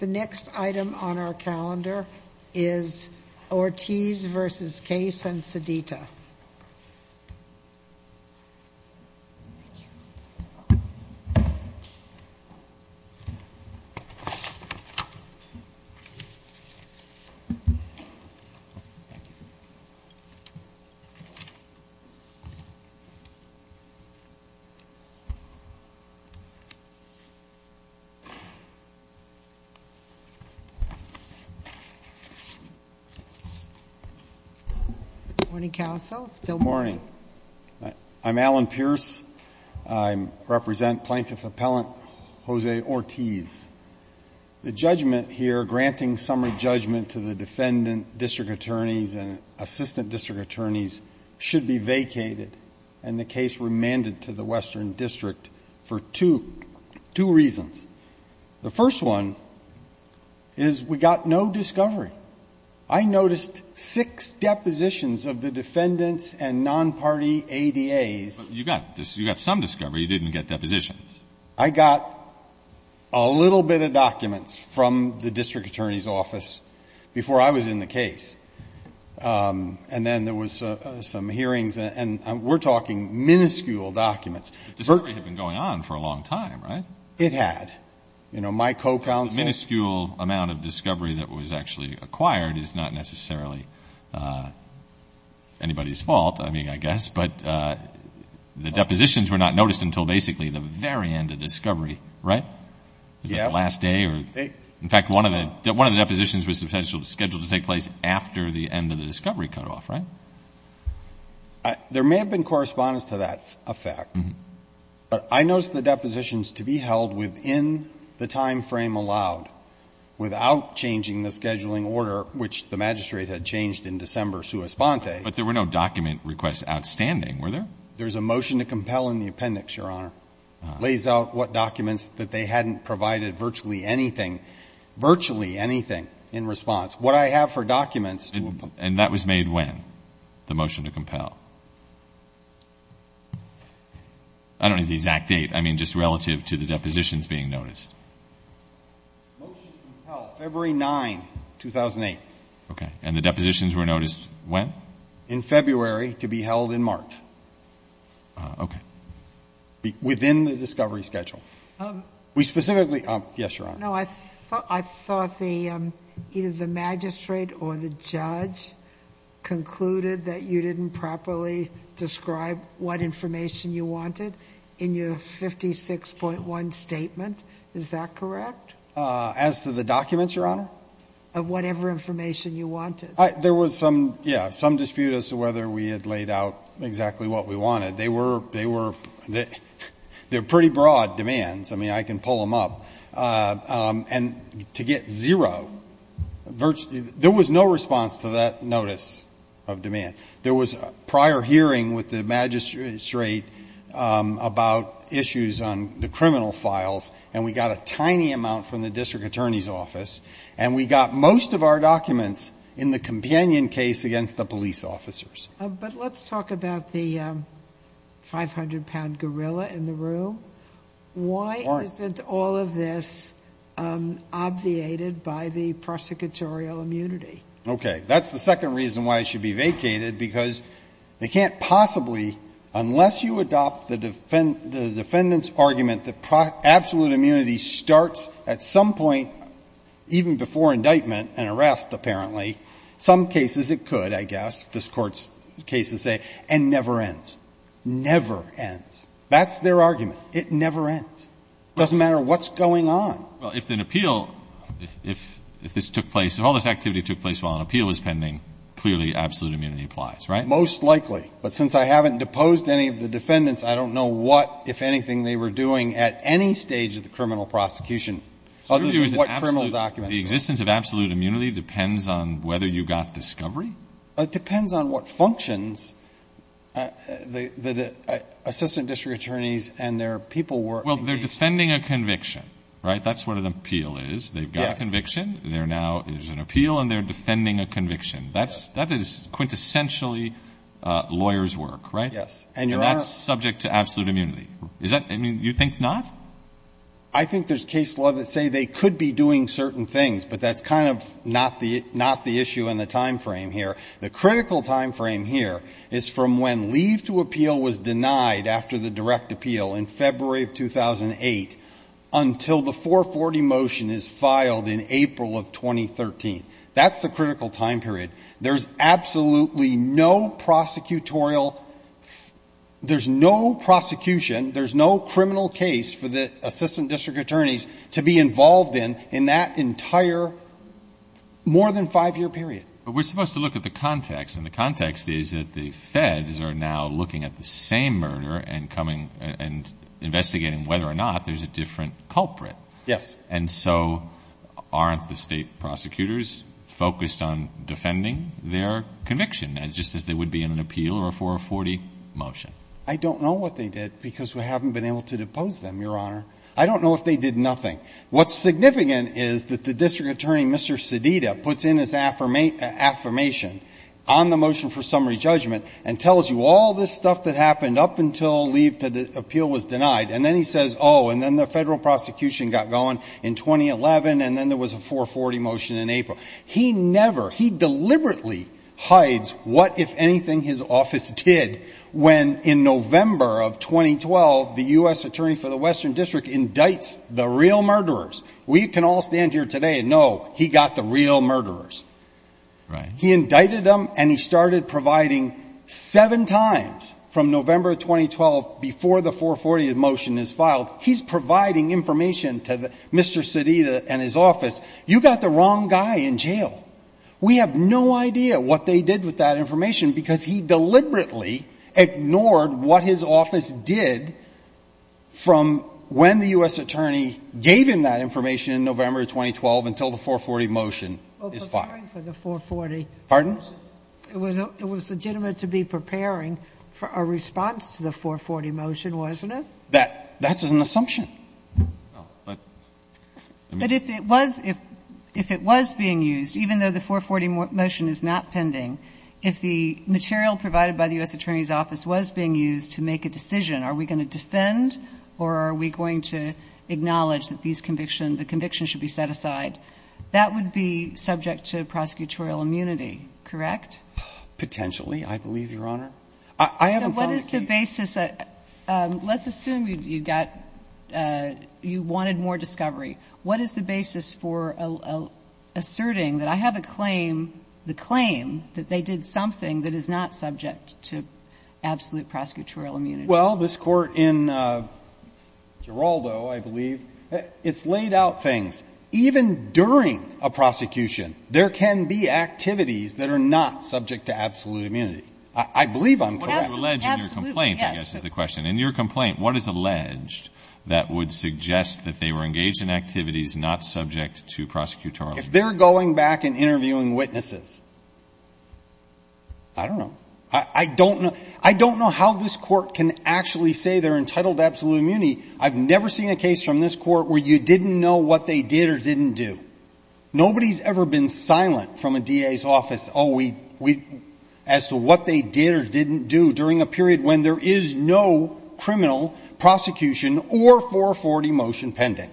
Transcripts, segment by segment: The next item on our calendar is Ortiz v. Case and Sedita. Good morning. I'm Alan Pierce. I represent plaintiff appellant Jose Ortiz. The judgment here granting summary judgment to the defendant, district attorneys, and assistant district attorneys should be vacated and the case remanded to the Western District for two reasons. The first one is we got no discovery. I noticed six depositions of the defendants and non-party ADAs. You got some discovery. You didn't get depositions. I got a little bit of documents from the district attorney's office before I was in the case. And then there was some hearings. And we're talking minuscule documents. The discovery had been going on for a long time, right? It had. You know, my co-counsel Minuscule amount of discovery that was actually acquired is not necessarily anybody's fault, I mean, I guess. But the depositions were not noticed until basically the very end of discovery, right? Yes. Was it the last day? In fact, one of the depositions was scheduled to take place after the end of the discovery cutoff, right? There may have been correspondence to that effect. But I noticed the depositions to be held within the time frame allowed without changing the scheduling order, which the magistrate had changed in December sua sponte. But there were no document requests outstanding, were there? There's a motion to compel in the appendix, Your Honor. Lays out what documents that they hadn't provided virtually anything, virtually anything in response. What I have for documents to was made when? The motion to compel. I don't know the exact date. I mean, just relative to the depositions being noticed. The motion to compel, February 9, 2008. Okay. And the depositions were noticed when? In February, to be held in March. Okay. No, I thought the, either the magistrate or the judge concluded that you didn't properly describe what information you wanted in your 56.1 statement. Is that correct? As to the documents, Your Honor? Of whatever information you wanted. There was some, yeah, some dispute as to whether we had laid out exactly what we wanted. They were, they were, they're pretty broad demands. I mean, I can pull them up. And to get zero, virtually, there was no response to that notice of demand. There was a prior hearing with the magistrate about issues on the criminal files, and we got a tiny amount from the district attorney's office. And we got most of our documents in the companion case against the police officers. But let's talk about the 500-pound gorilla in the room. Why isn't all of this obviated by the prosecutorial immunity? Okay. That's the second reason why it should be vacated, because they can't possibly unless you adopt the defendant's argument that absolute immunity starts at some point, even before indictment and arrest, apparently, some cases it could, I guess, this Court's cases say, and never ends. Never ends. That's their argument. It never ends. It doesn't matter what's going on. Well, if an appeal, if this took place, if all this activity took place while an appeal was pending, clearly absolute immunity applies, right? Most likely. But since I haven't deposed any of the defendants, I don't know what, if anything, they were doing at any stage of the criminal prosecution other than what criminal documents. The existence of absolute immunity depends on whether you got discovery? It depends on what functions the assistant district attorneys and their people were engaged in. Well, they're defending a conviction, right? That's what an appeal is. They've got a conviction. Yes. There now is an appeal, and they're defending a conviction. That is quintessentially lawyers' work, right? Yes. And, Your Honor — I mean, you think not? I think there's case law that say they could be doing certain things, but that's kind of not the issue in the time frame here. The critical time frame here is from when leave to appeal was denied after the direct appeal in February of 2008 until the 440 motion is filed in April of 2013. That's the critical time period. There's absolutely no prosecutorial — there's no prosecution, there's no criminal case for the assistant district attorneys to be involved in in that entire more than five-year period. But we're supposed to look at the context. And the context is that the feds are now looking at the same murder and coming and investigating whether or not there's a different culprit. Yes. And so aren't the State prosecutors focused on defending their conviction, just as they would be in an appeal or a 440 motion? I don't know what they did because we haven't been able to depose them, Your Honor. I don't know if they did nothing. What's significant is that the district attorney, Mr. Sedita, puts in his affirmation on the motion for summary judgment and tells you all this stuff that happened up until leave to appeal was denied. And then he says, oh, and then the federal prosecution got going in 2011, and then there was a 440 motion in April. He never — he deliberately hides what, if anything, his office did when, in November of 2012, the U.S. Attorney for the Western District indicts the real murderers. We can all stand here today and know he got the real murderers. Right. He indicted them, and he started providing seven times from November of 2012 before the 440 motion is filed. He's providing information to Mr. Sedita and his office. You got the wrong guy in jail. We have no idea what they did with that information because he deliberately ignored what his office did from when the U.S. Attorney gave him that information in November of 2012 until the 440 motion is filed. Well, preparing for the 440 — Pardon? It was legitimate to be preparing for a response to the 440 motion, wasn't it? That's an assumption. But if it was — if it was being used, even though the 440 motion is not pending, if the material provided by the U.S. Attorney's office was being used to make a decision, are we going to defend or are we going to acknowledge that these convictions should be set aside? That would be subject to prosecutorial immunity, correct? Potentially, I believe, Your Honor. I haven't found a case — So what is the basis — let's assume you got — you wanted more discovery. What is the basis for asserting that I have a claim, the claim that they did something that is not subject to absolute prosecutorial immunity? Well, this Court in Geraldo, I believe, it's laid out things. Even during a prosecution, there can be activities that are not subject to absolute immunity. I believe I'm correct. What is alleged in your complaint, I guess, is the question. In your complaint, what is alleged that would suggest that they were engaged in activities not subject to prosecutorial immunity? If they're going back and interviewing witnesses, I don't know. I don't know. I don't know how this Court can actually say they're entitled to absolute immunity. I've never seen a case from this Court where you didn't know what they did or didn't do. Nobody's ever been silent from a DA's office, oh, we — as to what they did or didn't do during a period when there is no criminal prosecution or 440 motion pending.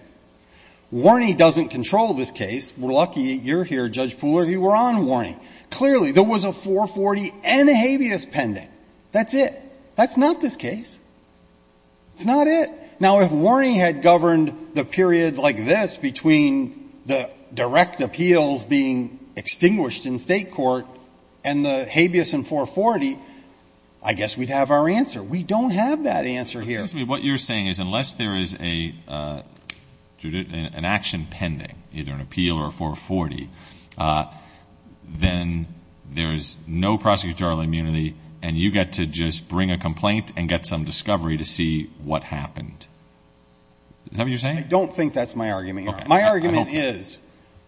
Warney doesn't control this case. We're lucky you're here, Judge Pooler. You were on Warney. Clearly, there was a 440 and a habeas pending. That's it. That's not this case. It's not it. Now, if Warney had governed the period like this between the direct appeals being extinguished in State court and the habeas in 440, I guess we'd have our answer. We don't have that answer here. What you're saying is unless there is an action pending, either an appeal or a 440, then there's no prosecutorial immunity and you get to just bring a complaint and get some discovery to see what happened. Is that what you're saying? I don't think that's my argument. My argument is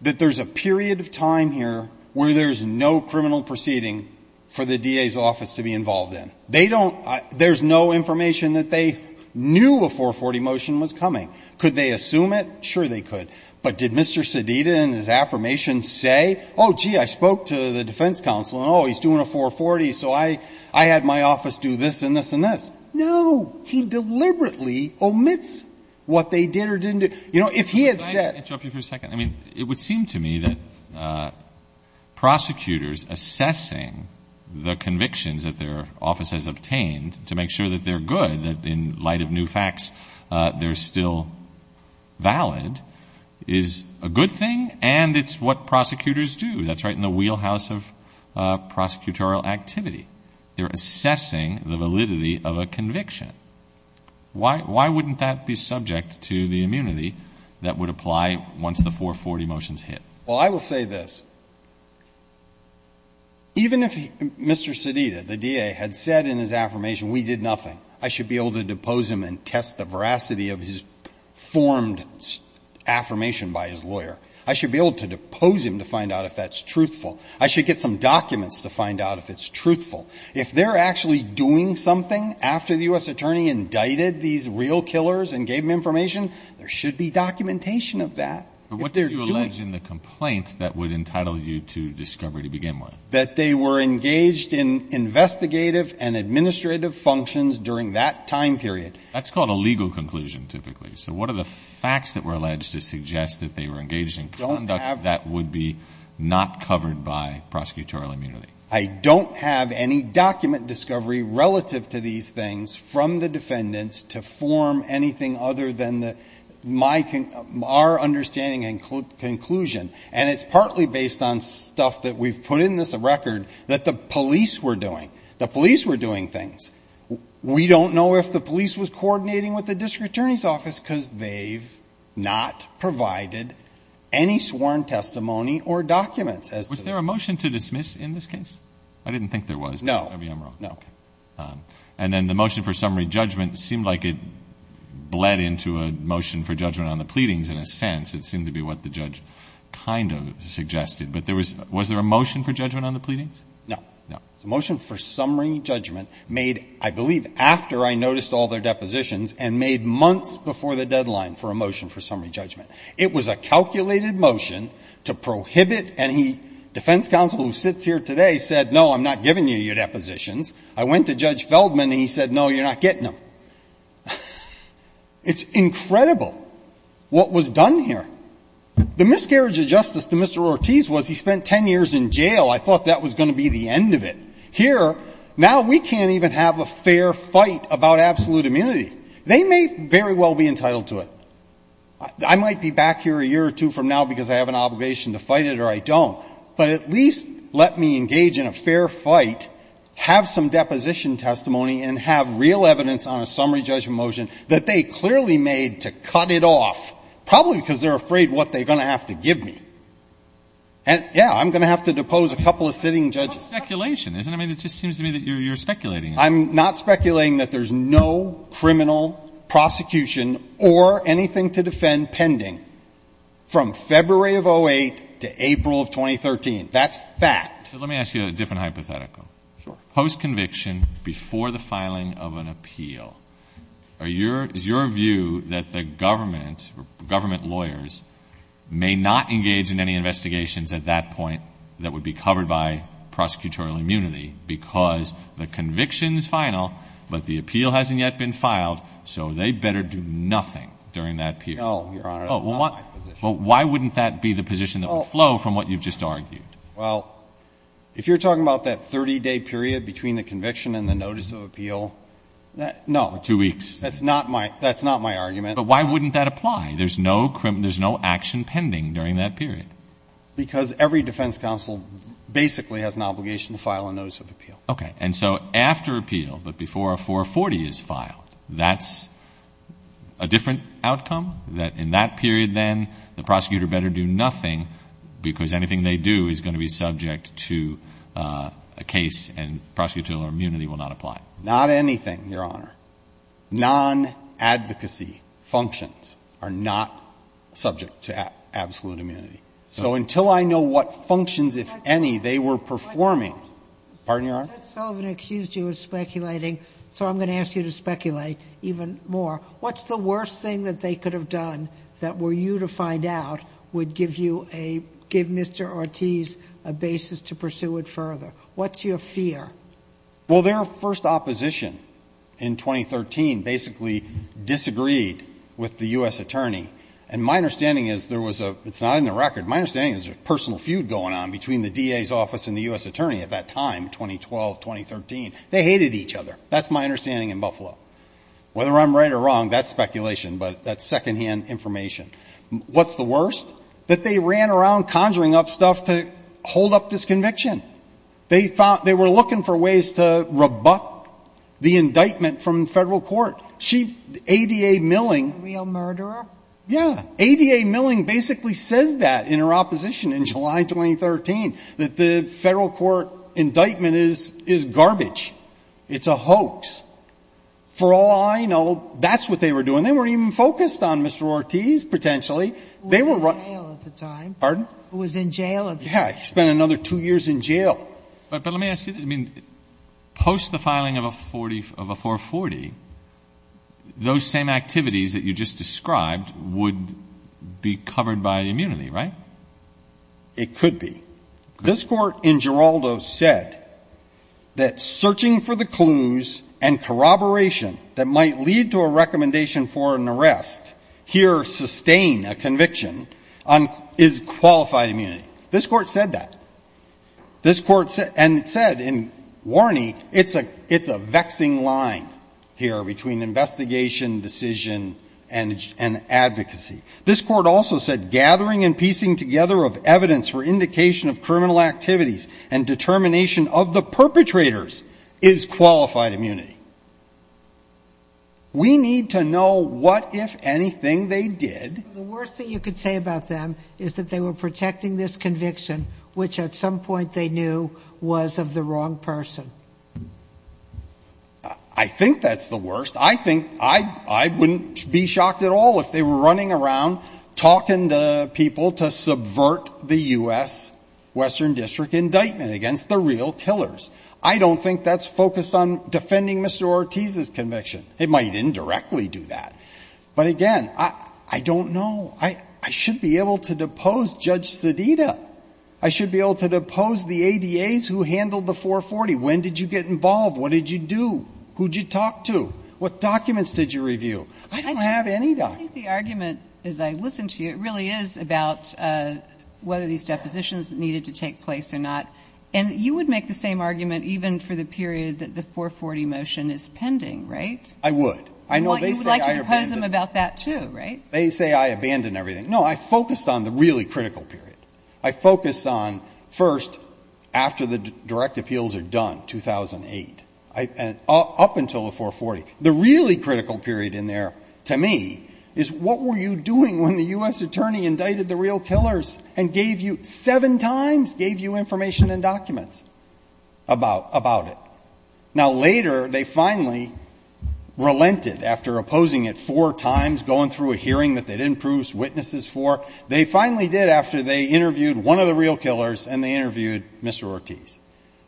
that there's a period of time here where there's no criminal proceeding for the DA's office to be involved in. They don't – there's no information that they knew a 440 motion was coming. Could they assume it? Sure, they could. But did Mr. Sedita and his affirmation say, oh, gee, I spoke to the defense counsel and, oh, he's doing a 440, so I had my office do this and this and this? No. He deliberately omits what they did or didn't do. You know, if he had said – Could I interrupt you for a second? I mean, it would seem to me that prosecutors assessing the convictions that their office has obtained to make sure that they're good, that in light of new facts they're still valid, is a good thing and it's what prosecutors do. That's right in the wheelhouse of prosecutorial activity. They're assessing the validity of a conviction. Why wouldn't that be subject to the immunity that would apply once the 440 motions hit? Well, I will say this. Even if Mr. Sedita, the DA, had said in his affirmation we did nothing, I should be able to depose him and test the veracity of his formed affirmation by his lawyer. I should be able to depose him to find out if that's truthful. I should get some documents to find out if it's truthful. If they're actually doing something after the U.S. attorney indicted these real killers and gave them information, there should be documentation of that. But what did you allege in the complaint that would entitle you to discovery to begin with? That they were engaged in investigative and administrative functions during that time period. That's called a legal conclusion, typically. So what are the facts that were alleged to suggest that they were engaged in conduct that would be not covered by prosecutorial immunity? I don't have any document discovery relative to these things from the defendants to form anything other than our understanding and conclusion. And it's partly based on stuff that we've put in this record that the police were doing. The police were doing things. We don't know if the police was coordinating with the district attorney's office because they've not provided any sworn testimony or documents as to this. Was there a motion to dismiss in this case? I didn't think there was. No. And then the motion for summary judgment seemed like it bled into a motion for judgment on the pleadings in a sense. It seemed to be what the judge kind of suggested. But was there a motion for judgment on the pleadings? No. No. The motion for summary judgment made, I believe, after I noticed all their depositions and made months before the deadline for a motion for summary judgment. It was a calculated motion to prohibit and he, defense counsel who sits here today said, no, I'm not giving you your depositions. I went to Judge Feldman and he said, no, you're not getting them. It's incredible what was done here. The miscarriage of justice to Mr. Ortiz was he spent 10 years in jail. I thought that was going to be the end of it. Here, now we can't even have a fair fight about absolute immunity. They may very well be entitled to it. I might be back here a year or two from now because I have an obligation to fight it or I don't. But at least let me engage in a fair fight, have some deposition testimony and have real evidence on a summary judgment motion that they clearly made to cut it off, probably because they're afraid what they're going to have to give me. And, yeah, I'm going to have to depose a couple of sitting judges. It's not speculation, is it? I mean, it just seems to me that you're speculating. I'm not speculating that there's no criminal prosecution or anything to defend pending from February of 2008 to April of 2013. That's fact. So let me ask you a different hypothetical. Sure. Post-conviction, before the filing of an appeal, is your view that the government or government lawyers may not engage in any investigations at that point that would be covered by prosecutorial immunity because the conviction is final, but the appeal hasn't yet been filed, so they better do nothing during that period? No, Your Honor. That's not my position. Well, why wouldn't that be the position that would flow from what you've just argued? Well, if you're talking about that 30-day period between the conviction and the notice of appeal, no. Two weeks. That's not my argument. But why wouldn't that apply? There's no action pending during that period. Because every defense counsel basically has an obligation to file a notice of appeal. Okay. And so after appeal, but before a 440 is filed, that's a different outcome, that in that period then the prosecutor better do nothing because anything they do is going to be subject to a case and prosecutorial immunity will not apply? Not anything, Your Honor. Non-advocacy functions are not subject to absolute immunity. So until I know what functions, if any, they were performing. Pardon, Your Honor? Judge Sullivan accused you of speculating, so I'm going to ask you to speculate even more. What's the worst thing that they could have done that were you to find out would give you a, give Mr. Ortiz a basis to pursue it further? What's your fear? Well, their first opposition in 2013 basically disagreed with the U.S. attorney. And my understanding is there was a, it's not in the record, my understanding is there was a personal feud going on between the DA's office and the U.S. attorney at that time, 2012, 2013. They hated each other. That's my understanding in Buffalo. Whether I'm right or wrong, that's speculation, but that's secondhand information. What's the worst? That they ran around conjuring up stuff to hold up this conviction. They found, they were looking for ways to rebut the indictment from the Federal Court. She, ADA Milling. A real murderer? Yeah. ADA Milling basically says that in her opposition in July 2013, that the Federal Court indictment is garbage. It's a hoax. For all I know, that's what they were doing. They weren't even focused on Mr. Ortiz, potentially. They were running. He was in jail at the time. Pardon? He was in jail at the time. Yeah, he spent another two years in jail. But let me ask you, I mean, post the filing of a 440, those same activities that you just described would be covered by immunity, right? It could be. This court in Geraldo said that searching for the clues and corroboration that might lead to a recommendation for an arrest, here sustain a conviction, is qualified immunity. This court said that. This court said, and it said in Warny, it's a vexing line here between investigation, decision, and advocacy. This court also said gathering and piecing together of evidence for indication of criminal activities and determination of the perpetrators is qualified immunity. We need to know what, if anything, they did. The worst thing you could say about them is that they were protecting this was of the wrong person. I think that's the worst. I think I wouldn't be shocked at all if they were running around talking to people to subvert the U.S. Western District indictment against the real killers. I don't think that's focused on defending Mr. Ortiz's conviction. It might indirectly do that. But, again, I don't know. I should be able to depose Judge Sedita. I should be able to depose the ADAs who handled the 440. When did you get involved? What did you do? Who did you talk to? What documents did you review? I don't have any documents. I think the argument, as I listen to you, it really is about whether these depositions needed to take place or not. And you would make the same argument even for the period that the 440 motion is pending, right? I would. You would like to depose them about that, too, right? They say I abandoned everything. No, I focused on the really critical period. I focused on, first, after the direct appeals are done, 2008, up until the 440. The really critical period in there, to me, is what were you doing when the U.S. attorney indicted the real killers and gave you, seven times, gave you information and documents about it? Now, later, they finally relented after opposing it four times, going through a hearing that they didn't prove witnesses for. They finally did after they interviewed one of the real killers and they interviewed Mr. Ortiz.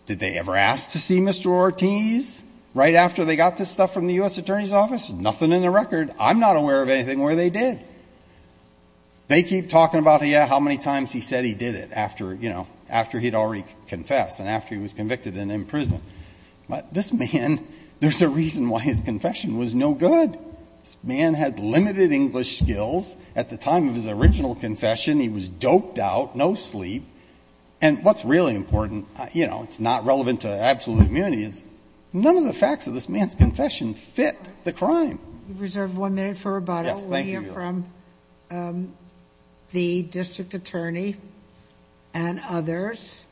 Did they ever ask to see Mr. Ortiz right after they got this stuff from the U.S. attorney's office? Nothing in the record. I'm not aware of anything where they did. They keep talking about, yeah, how many times he said he did it after, you know, after he had already confessed and after he was convicted and in prison. But this man, there's a reason why his confession was no good. This man had limited English skills. At the time of his original confession, he was doped out, no sleep. And what's really important, you know, it's not relevant to absolute immunity, is none of the facts of this man's confession fit the crime. You've reserved one minute for rebuttal. Yes, thank you, Your Honor. We'll hear from the district attorney and others.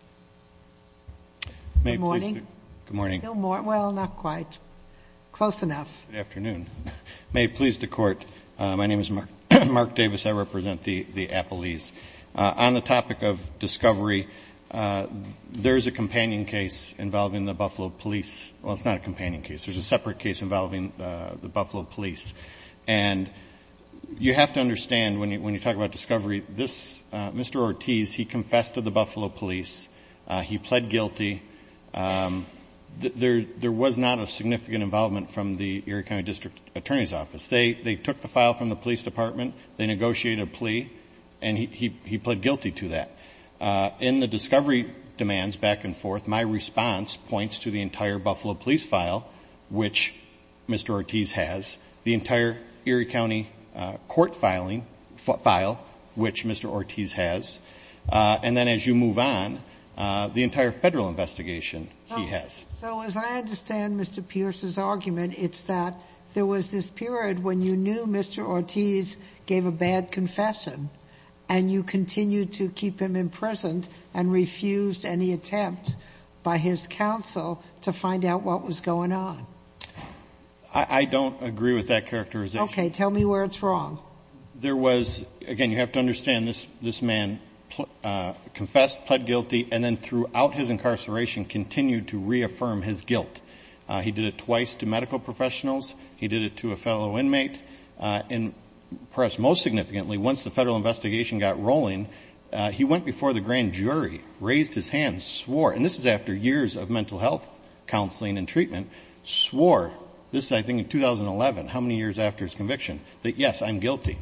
Good morning. Good morning. Well, not quite. Close enough. Good afternoon. May it please the Court, my name is Mark Davis. I represent the Appalese. On the topic of discovery, there is a companion case involving the Buffalo police. Well, it's not a companion case. There's a separate case involving the Buffalo police. And you have to understand when you talk about discovery, this Mr. Ortiz, he confessed to the Buffalo police. He pled guilty. There was not a significant involvement from the Erie County District Attorney's Office. They took the file from the police department. They negotiated a plea, and he pled guilty to that. In the discovery demands, back and forth, my response points to the entire Buffalo police file, which Mr. Ortiz has, the entire Erie County court filing file, which Mr. Ortiz has. And then as you move on, the entire Federal investigation he has. So as I understand Mr. Pierce's argument, it's that there was this period when you knew Mr. Ortiz gave a bad confession, and you continued to keep him imprisoned and refused any attempt by his counsel to find out what was going on. I don't agree with that characterization. Okay. Tell me where it's wrong. Well, there was, again, you have to understand, this man confessed, pled guilty, and then throughout his incarceration continued to reaffirm his guilt. He did it twice to medical professionals. He did it to a fellow inmate. And perhaps most significantly, once the Federal investigation got rolling, he went before the grand jury, raised his hand, swore, and this is after years of mental health counseling and treatment, swore, this is, I think, in 2011, how many years after his conviction, that, yes, I'm guilty.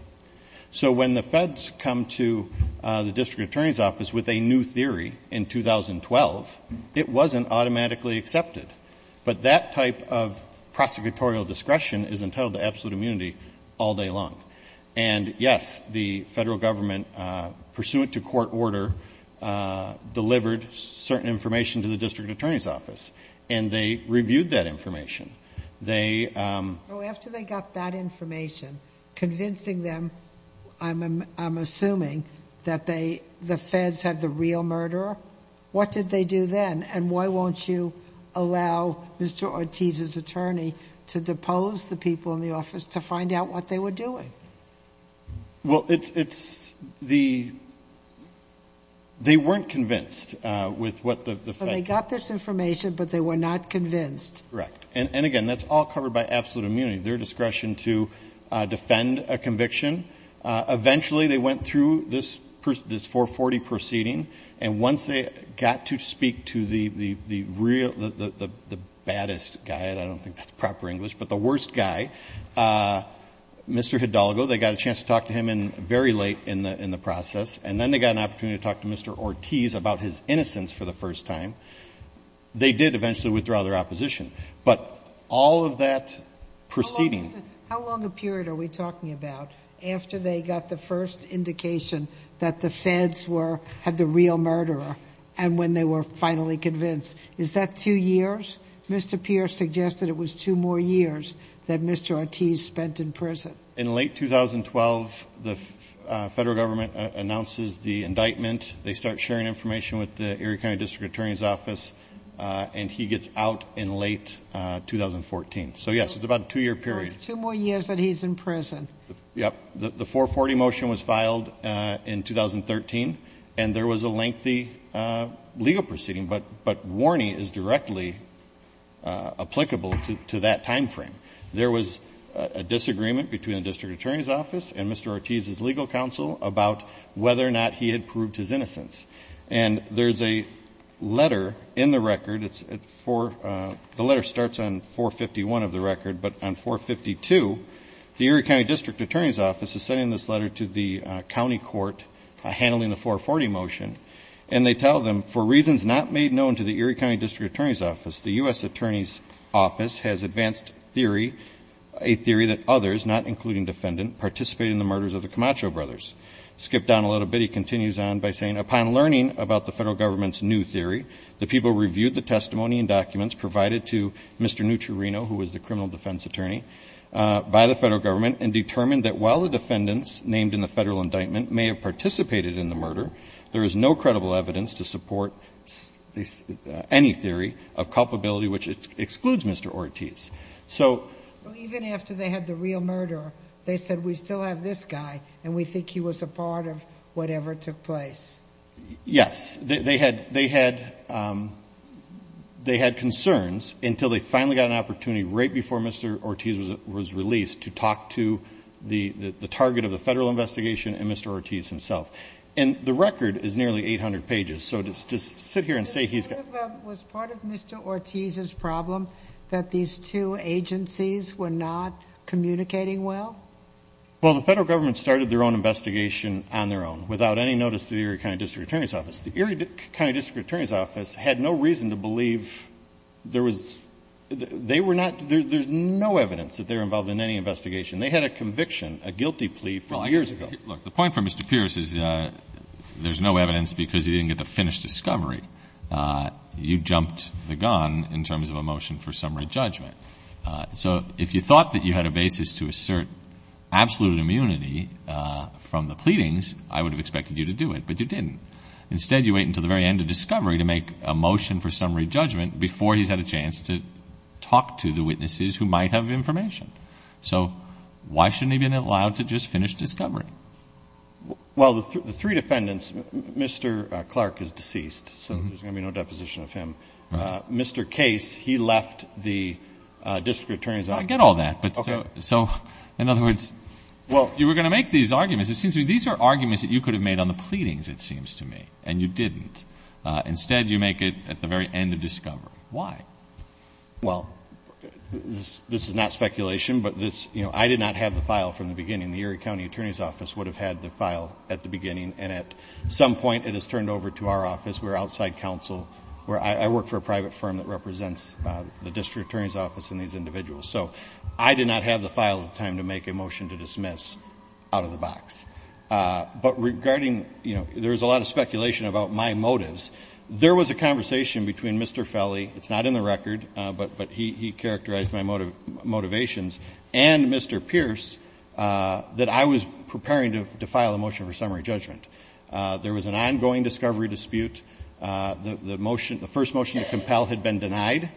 So when the Feds come to the District Attorney's Office with a new theory in 2012, it wasn't automatically accepted. But that type of prosecutorial discretion is entitled to absolute immunity all day long. And, yes, the Federal Government, pursuant to court order, delivered certain information to the District Attorney's Office, and they reviewed that information. They ---- So after they got that information, convincing them, I'm assuming, that the Feds have the real murderer, what did they do then? And why won't you allow Mr. Ortiz's attorney to depose the people in the office to find out what they were doing? Well, it's the ---- they weren't convinced with what the Feds ---- So they got this information, but they were not convinced. Correct. And, again, that's all covered by absolute immunity, their discretion to defend a conviction. Eventually, they went through this 440 proceeding, and once they got to speak to the real ---- the baddest guy, and I don't think that's proper English, but the worst guy, Mr. Hidalgo, they got a chance to talk to him very late in the process, and then they got an opportunity to talk to Mr. Ortiz about his innocence for the first time. They did eventually withdraw their opposition. But all of that proceeding ---- How long a period are we talking about? After they got the first indication that the Feds were ---- had the real murderer, and when they were finally convinced, is that two years? Mr. Pierce suggested it was two more years than Mr. Ortiz spent in prison. In late 2012, the Federal Government announces the indictment. They start sharing information with the Erie County District Attorney's Office, and he gets out in late 2014. So, yes, it's about a two-year period. That's two more years that he's in prison. Yes. The 440 motion was filed in 2013, and there was a lengthy legal proceeding, but warning is directly applicable to that time frame. There was a disagreement between the District Attorney's Office and Mr. Ortiz's legal counsel about whether or not he had proved his innocence. And there's a letter in the record. The letter starts on 451 of the record, but on 452, the Erie County District Attorney's Office is sending this letter to the county court handling the 440 motion. And they tell them, for reasons not made known to the Erie County District Attorney's Office, the U.S. Attorney's Office has advanced theory, a theory that others, not including defendant, participated in the murders of the Camacho brothers. Skipped down a little bit, he continues on by saying, upon learning about the Federal Government's new theory, the people reviewed the testimony and documents provided to Mr. Neutrino, who was the criminal defense attorney, by the Federal Government and determined that while the defendants named in the Federal indictment may have participated in the murder, there is no credible evidence to support any theory of culpability, which excludes Mr. Ortiz. So even after they had the real murderer, they said we still have this guy and we think he was a part of whatever took place. Yes. They had concerns until they finally got an opportunity right before Mr. Ortiz was released to talk to the target of the Federal investigation and Mr. Ortiz himself. And the record is nearly 800 pages. So just sit here and say he's got. Was part of Mr. Ortiz's problem that these two agencies were not communicating well? Well, the Federal Government started their own investigation on their own without any notice to the Erie County District Attorney's Office. The Erie County District Attorney's Office had no reason to believe there was they were not. There's no evidence that they're involved in any investigation. They had a conviction, a guilty plea from years ago. Look, the point for Mr. Pierce is there's no evidence because he didn't get the finished discovery. You jumped the gun in terms of a motion for summary judgment. So if you thought that you had a basis to assert absolute immunity from the pleadings, I would have expected you to do it, but you didn't. Instead, you wait until the very end of discovery to make a motion for summary judgment before he's had a chance to talk to the witnesses who might have information. So why shouldn't he have been allowed to just finish discovery? Well, the three defendants, Mr. Clark is deceased, so there's going to be no deposition of him. Mr. Case, he left the District Attorney's Office. I get all that, but so, in other words, you were going to make these arguments. It seems to me these are arguments that you could have made on the pleadings, it seems to me, and you didn't. Instead, you make it at the very end of discovery. Why? Well, this is not speculation, but this, you know, I did not have the file from the beginning. The Erie County Attorney's Office would have had the file at the beginning, and at some point, it is turned over to our office. We're outside counsel where I work for a private firm that represents the District Attorney's Office and these individuals. So I did not have the file at the time to make a motion to dismiss out of the box. But regarding, you know, there was a lot of speculation about my motives. There was a conversation between Mr. Felly. It's not in the record, but he characterized my motivations. And Mr. Pierce, that I was preparing to file a motion for summary judgment. There was an ongoing discovery dispute. The motion, the first motion to compel had been denied.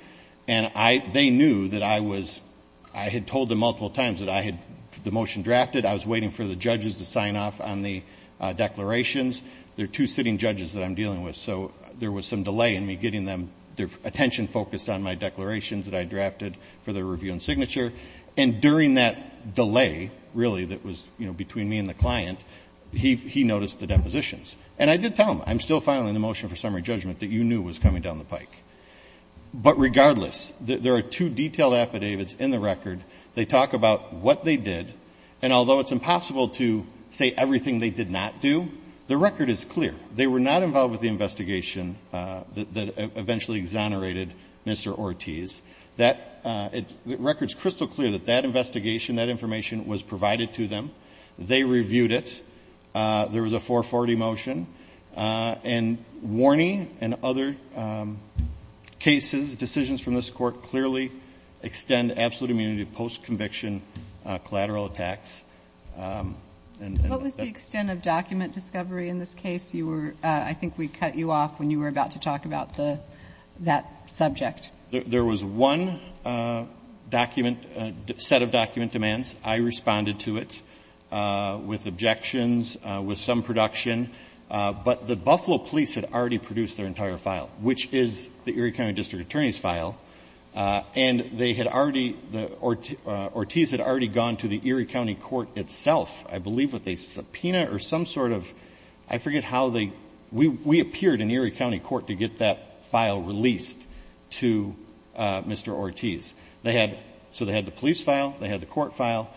And I, they knew that I was, I had told them multiple times that I had the motion drafted. I was waiting for the judges to sign off on the declarations. There are two sitting judges that I'm dealing with. So there was some delay in me getting them, their attention focused on my declarations that I drafted for the review and signature. And during that delay, really that was, you know, between me and the client, he, he noticed the depositions and I did tell him, I'm still filing the motion for summary judgment that you knew was coming down the pike. But regardless, there are two detailed affidavits in the record. They talk about what they did. And although it's impossible to say everything they did not do, the record is clear. They were not involved with the investigation. That eventually exonerated Mr. Ortiz that it records crystal clear that that investigation, that information was provided to them. They reviewed it. There was a four 40 motion and warning and other cases, decisions from this court, clearly extend absolute immunity post-conviction collateral attacks. And what was the extent of document discovery in this case? You were, I think we cut you off when you were about to talk about the, that subject. There was one document set of document demands. I responded to it with objections with some production, but the Buffalo police had already produced their entire file, which is the Erie County district attorney's file. And they had already, the Ortiz had already gone to the Erie County court itself. I believe with a subpoena or some sort of, I forget how they, we, we appeared in Erie County court to get that file released to Mr. Ortiz. They had, so they had the police file. They had the court file.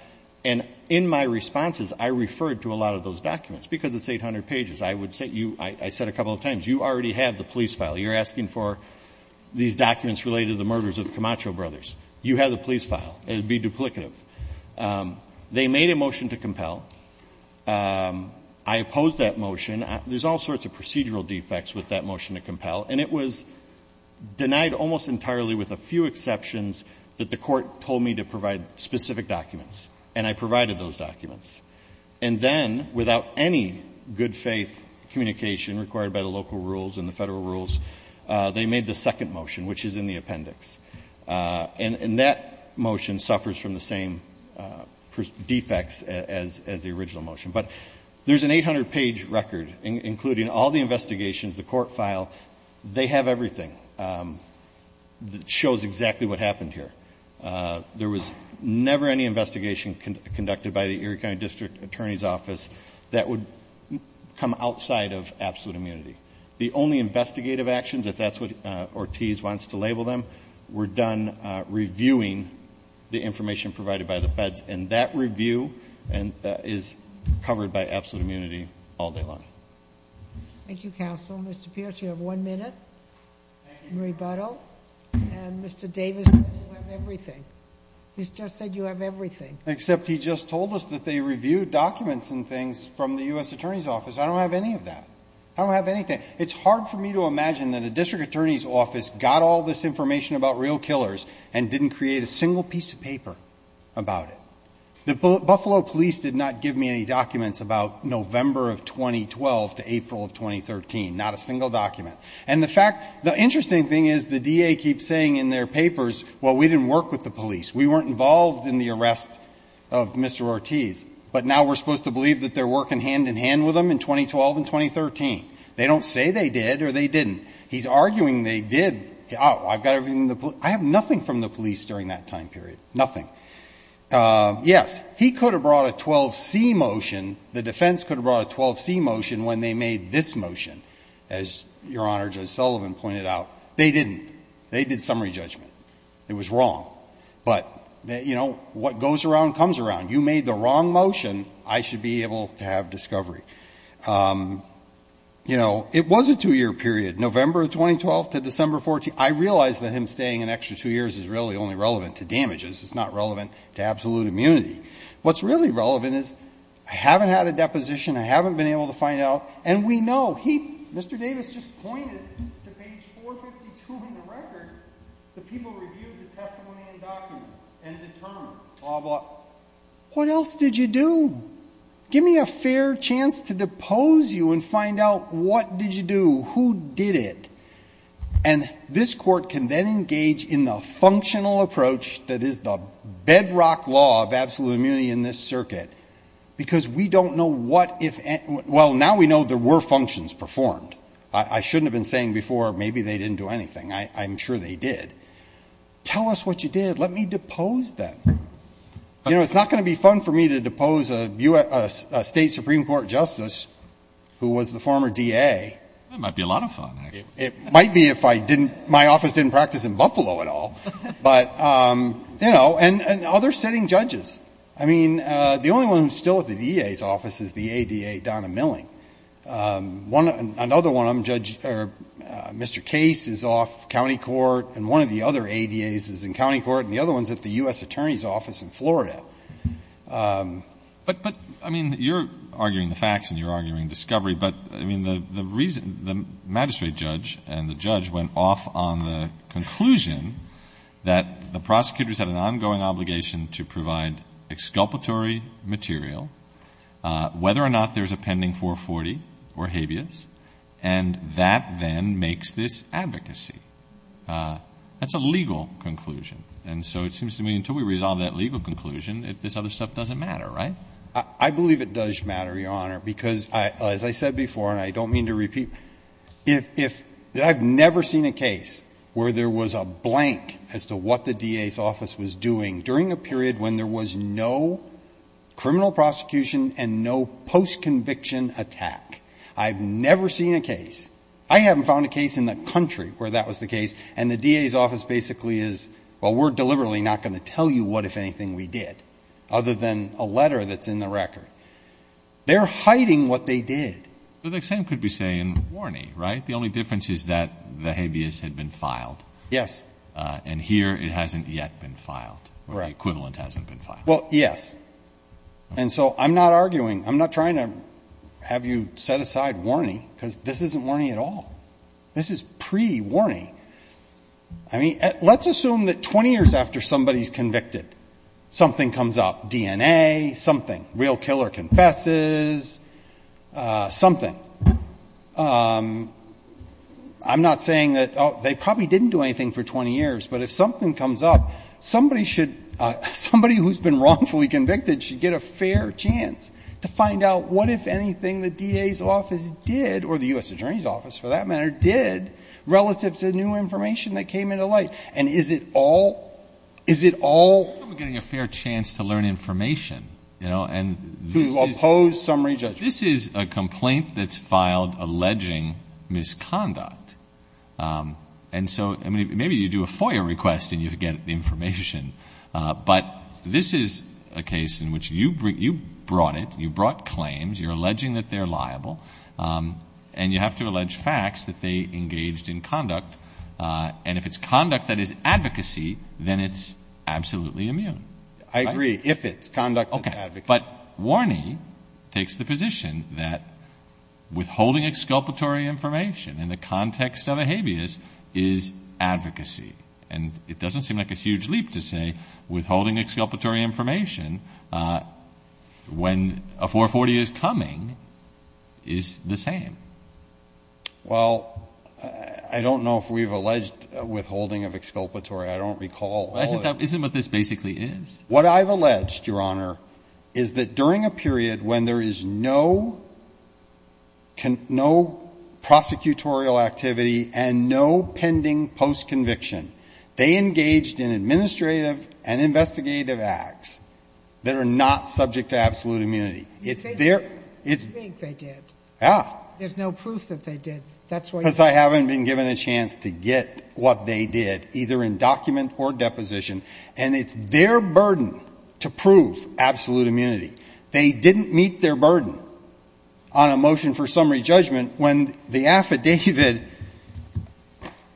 And in my responses, I referred to a lot of those documents because it's 800 pages. I would say you, I said a couple of times, you already have the police file. You're asking for these documents related to the murders of Camacho brothers. You have the police file. It'd be duplicative. They made a motion to compel. I opposed that motion. There's all sorts of procedural defects with that motion to compel. And it was denied almost entirely with a few exceptions that the court told me to provide specific documents. And I provided those documents. And then without any good faith communication required by the local rules and the federal rules, they made the second motion, which is in the appendix. And that motion suffers from the same defects as, as the original motion, but there's an 800 page record, including all the investigations, the court file, they have everything that shows exactly what happened here. There was never any investigation conducted by the Erie County district attorney's office that would come outside of absolute immunity. The only investigative actions, if that's what Ortiz wants to label them, we're done reviewing the information provided by the feds. And that review is covered by absolute immunity all day long. Thank you. Counsel. Mr. Pierce, you have one minute. And Mr. Davis, everything he's just said, you have everything except he just told us that they reviewed documents and things from the U S attorney's office. I don't have any of that. I don't have anything. It's hard for me to imagine that the district attorney's office got all this information about real killers and didn't create a single piece of paper about it. The Buffalo police did not give me any documents about November of 2012 to April of 2013, not a single document. And the fact, the interesting thing is the DA keeps saying in their papers, well, we didn't work with the police. We weren't involved in the arrest of Mr. Ortiz, but now we're supposed to believe that they're working hand in hand with them in 2012 and 2013. They don't say they did or they didn't. He's arguing they did. Oh, I've got everything. I have nothing from the police during that time period. Nothing. Yes, he could have brought a 12 C motion. The defense could have brought a 12 C motion when they made this motion, as your honor, just Sullivan pointed out. They didn't, they did summary judgment. It was wrong, but you know what goes around comes around. You made the wrong motion. I should be able to have discovery. You know, it was a two year period, November of 2012 to December 14. I realized that him staying an extra two years is really only relevant to damages. It's not relevant to absolute immunity. What's really relevant is I haven't had a deposition. I haven't been able to find out. And we know he, Mr. Davis just pointed to page four 52 in the record. The people reviewed the testimony and documents and determined blah, blah. What else did you do? Give me a fair chance to depose you and find out what did you do? Who did it? And this court can then engage in the functional approach. That is the bedrock law of absolute immunity in this circuit, because we don't know what, if, well, now we know there were functions performed. I shouldn't have been saying before, maybe they didn't do anything. I, I'm sure they did tell us what you did. Let me depose that. You know, it's not going to be fun for me to depose a U S a state Supreme court justice who was the former DA. That might be a lot of fun. It might be. If I didn't, my office didn't practice in Buffalo at all, but, um, you know, and, and other sitting judges. I mean, uh, the only one who's still at the DA's office is the ADA, Donna milling. Um, one, another one I'm judge, or, uh, Mr. Case is off County court. And one of the other ADA's is in County court. And the other one's at the U S attorney's office in Florida. Um, but, but I mean, you're arguing the facts and you're arguing discovery, but I mean, the reason the magistrate judge and the judge went off on the conclusion that the prosecutors had an ongoing obligation to provide exculpatory material, uh, whether or not there's a pending four 40 or habeas. And that then makes this advocacy. Uh, that's a legal conclusion. And so it seems to me until we resolve that legal conclusion, if this other stuff doesn't matter, right? I believe it does matter your honor, because I, as I said before, and I don't mean to repeat, if, if I've never seen a case where there was a blank as to what the DA's office was doing during a period when there was no criminal prosecution and no post conviction attack, I've never seen a case. I haven't found a case in the country where that was the case. And the DA's office basically is, well, we're deliberately not going to tell you what, if anything we did other than a letter that's in the record, they're hiding what they did. Well, the same could be saying warning, right? The only difference is that the habeas had been filed. Yes. Uh, and here it hasn't yet been filed where the equivalent hasn't been filed. Well, yes. And so I'm not arguing, I'm not trying to have you set aside warning because this isn't warning at all. This is pre warning. I mean, let's assume that 20 years after somebody's convicted, something comes up DNA, something real killer. Confesses, uh, something. Um, I'm not saying that they probably didn't do anything for 20 years, but if something comes up, somebody should, uh, somebody who's been wrongfully convicted should get a fair chance to find out what, if anything, the DA's office did, or the U S attorney's office for that matter, did relative to new information that came into light. And is it all, is it all getting a fair chance to learn information, you know, and to oppose summary judgment. This is a complaint that's filed alleging misconduct. Um, and so maybe you do a FOIA request and you forget the information. Uh, but this is a case in which you bring, you brought it, you brought claims, you're alleging that they're liable. Um, and you have to allege facts that they engaged in conduct. Uh, and if it's conduct that is advocacy, then it's absolutely immune. I agree. If it's conduct. Okay. But warning takes the position that withholding exculpatory information in the context of a habeas is advocacy. And it doesn't seem like a huge leap to say withholding exculpatory information, uh, when a four 40 is coming is the same. I don't know if we've alleged withholding of exculpatory. I don't recall. Isn't what this basically is what I've alleged. Your Honor, is that during a period when there is no can, no prosecutorial activity and no pending post conviction, they engaged in administrative and investigative acts that are not subject to absolute immunity. It's there. It's, they did. Yeah. There's no proof that they did. That's why I haven't been given a chance to get what they did either in document or deposition. And it's their burden to prove absolute immunity. They didn't meet their burden on a motion for summary judgment. When the affidavit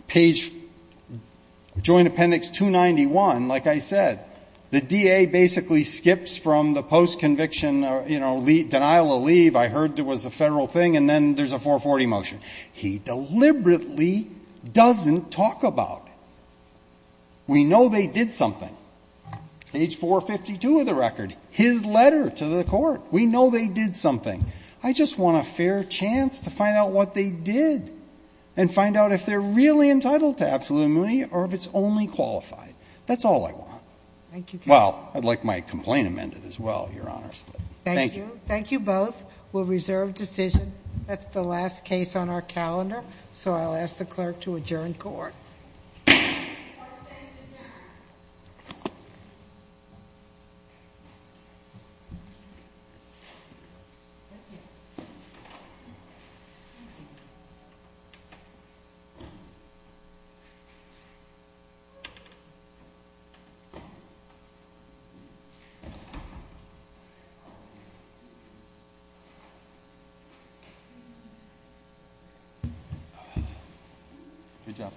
page joint appendix two 91, like I said, the DA basically skips from the post conviction, you know, lead denial of leave. I heard there was a federal thing. And then there's a four 40 motion. He deliberately doesn't talk about it. We know they did something age four 52 of the record, his letter to the court. We know they did something. I just want a fair chance to find out what they did and find out if they're really entitled to absolute immunity or if it's only qualified. That's all I want. Thank you. Well, I'd like my complaint amended as well. Your Honor. Thank you. Thank you both. We'll reserve decision. That's the last case on our calendar. So I'll ask the clerk to adjourn court. Thank you.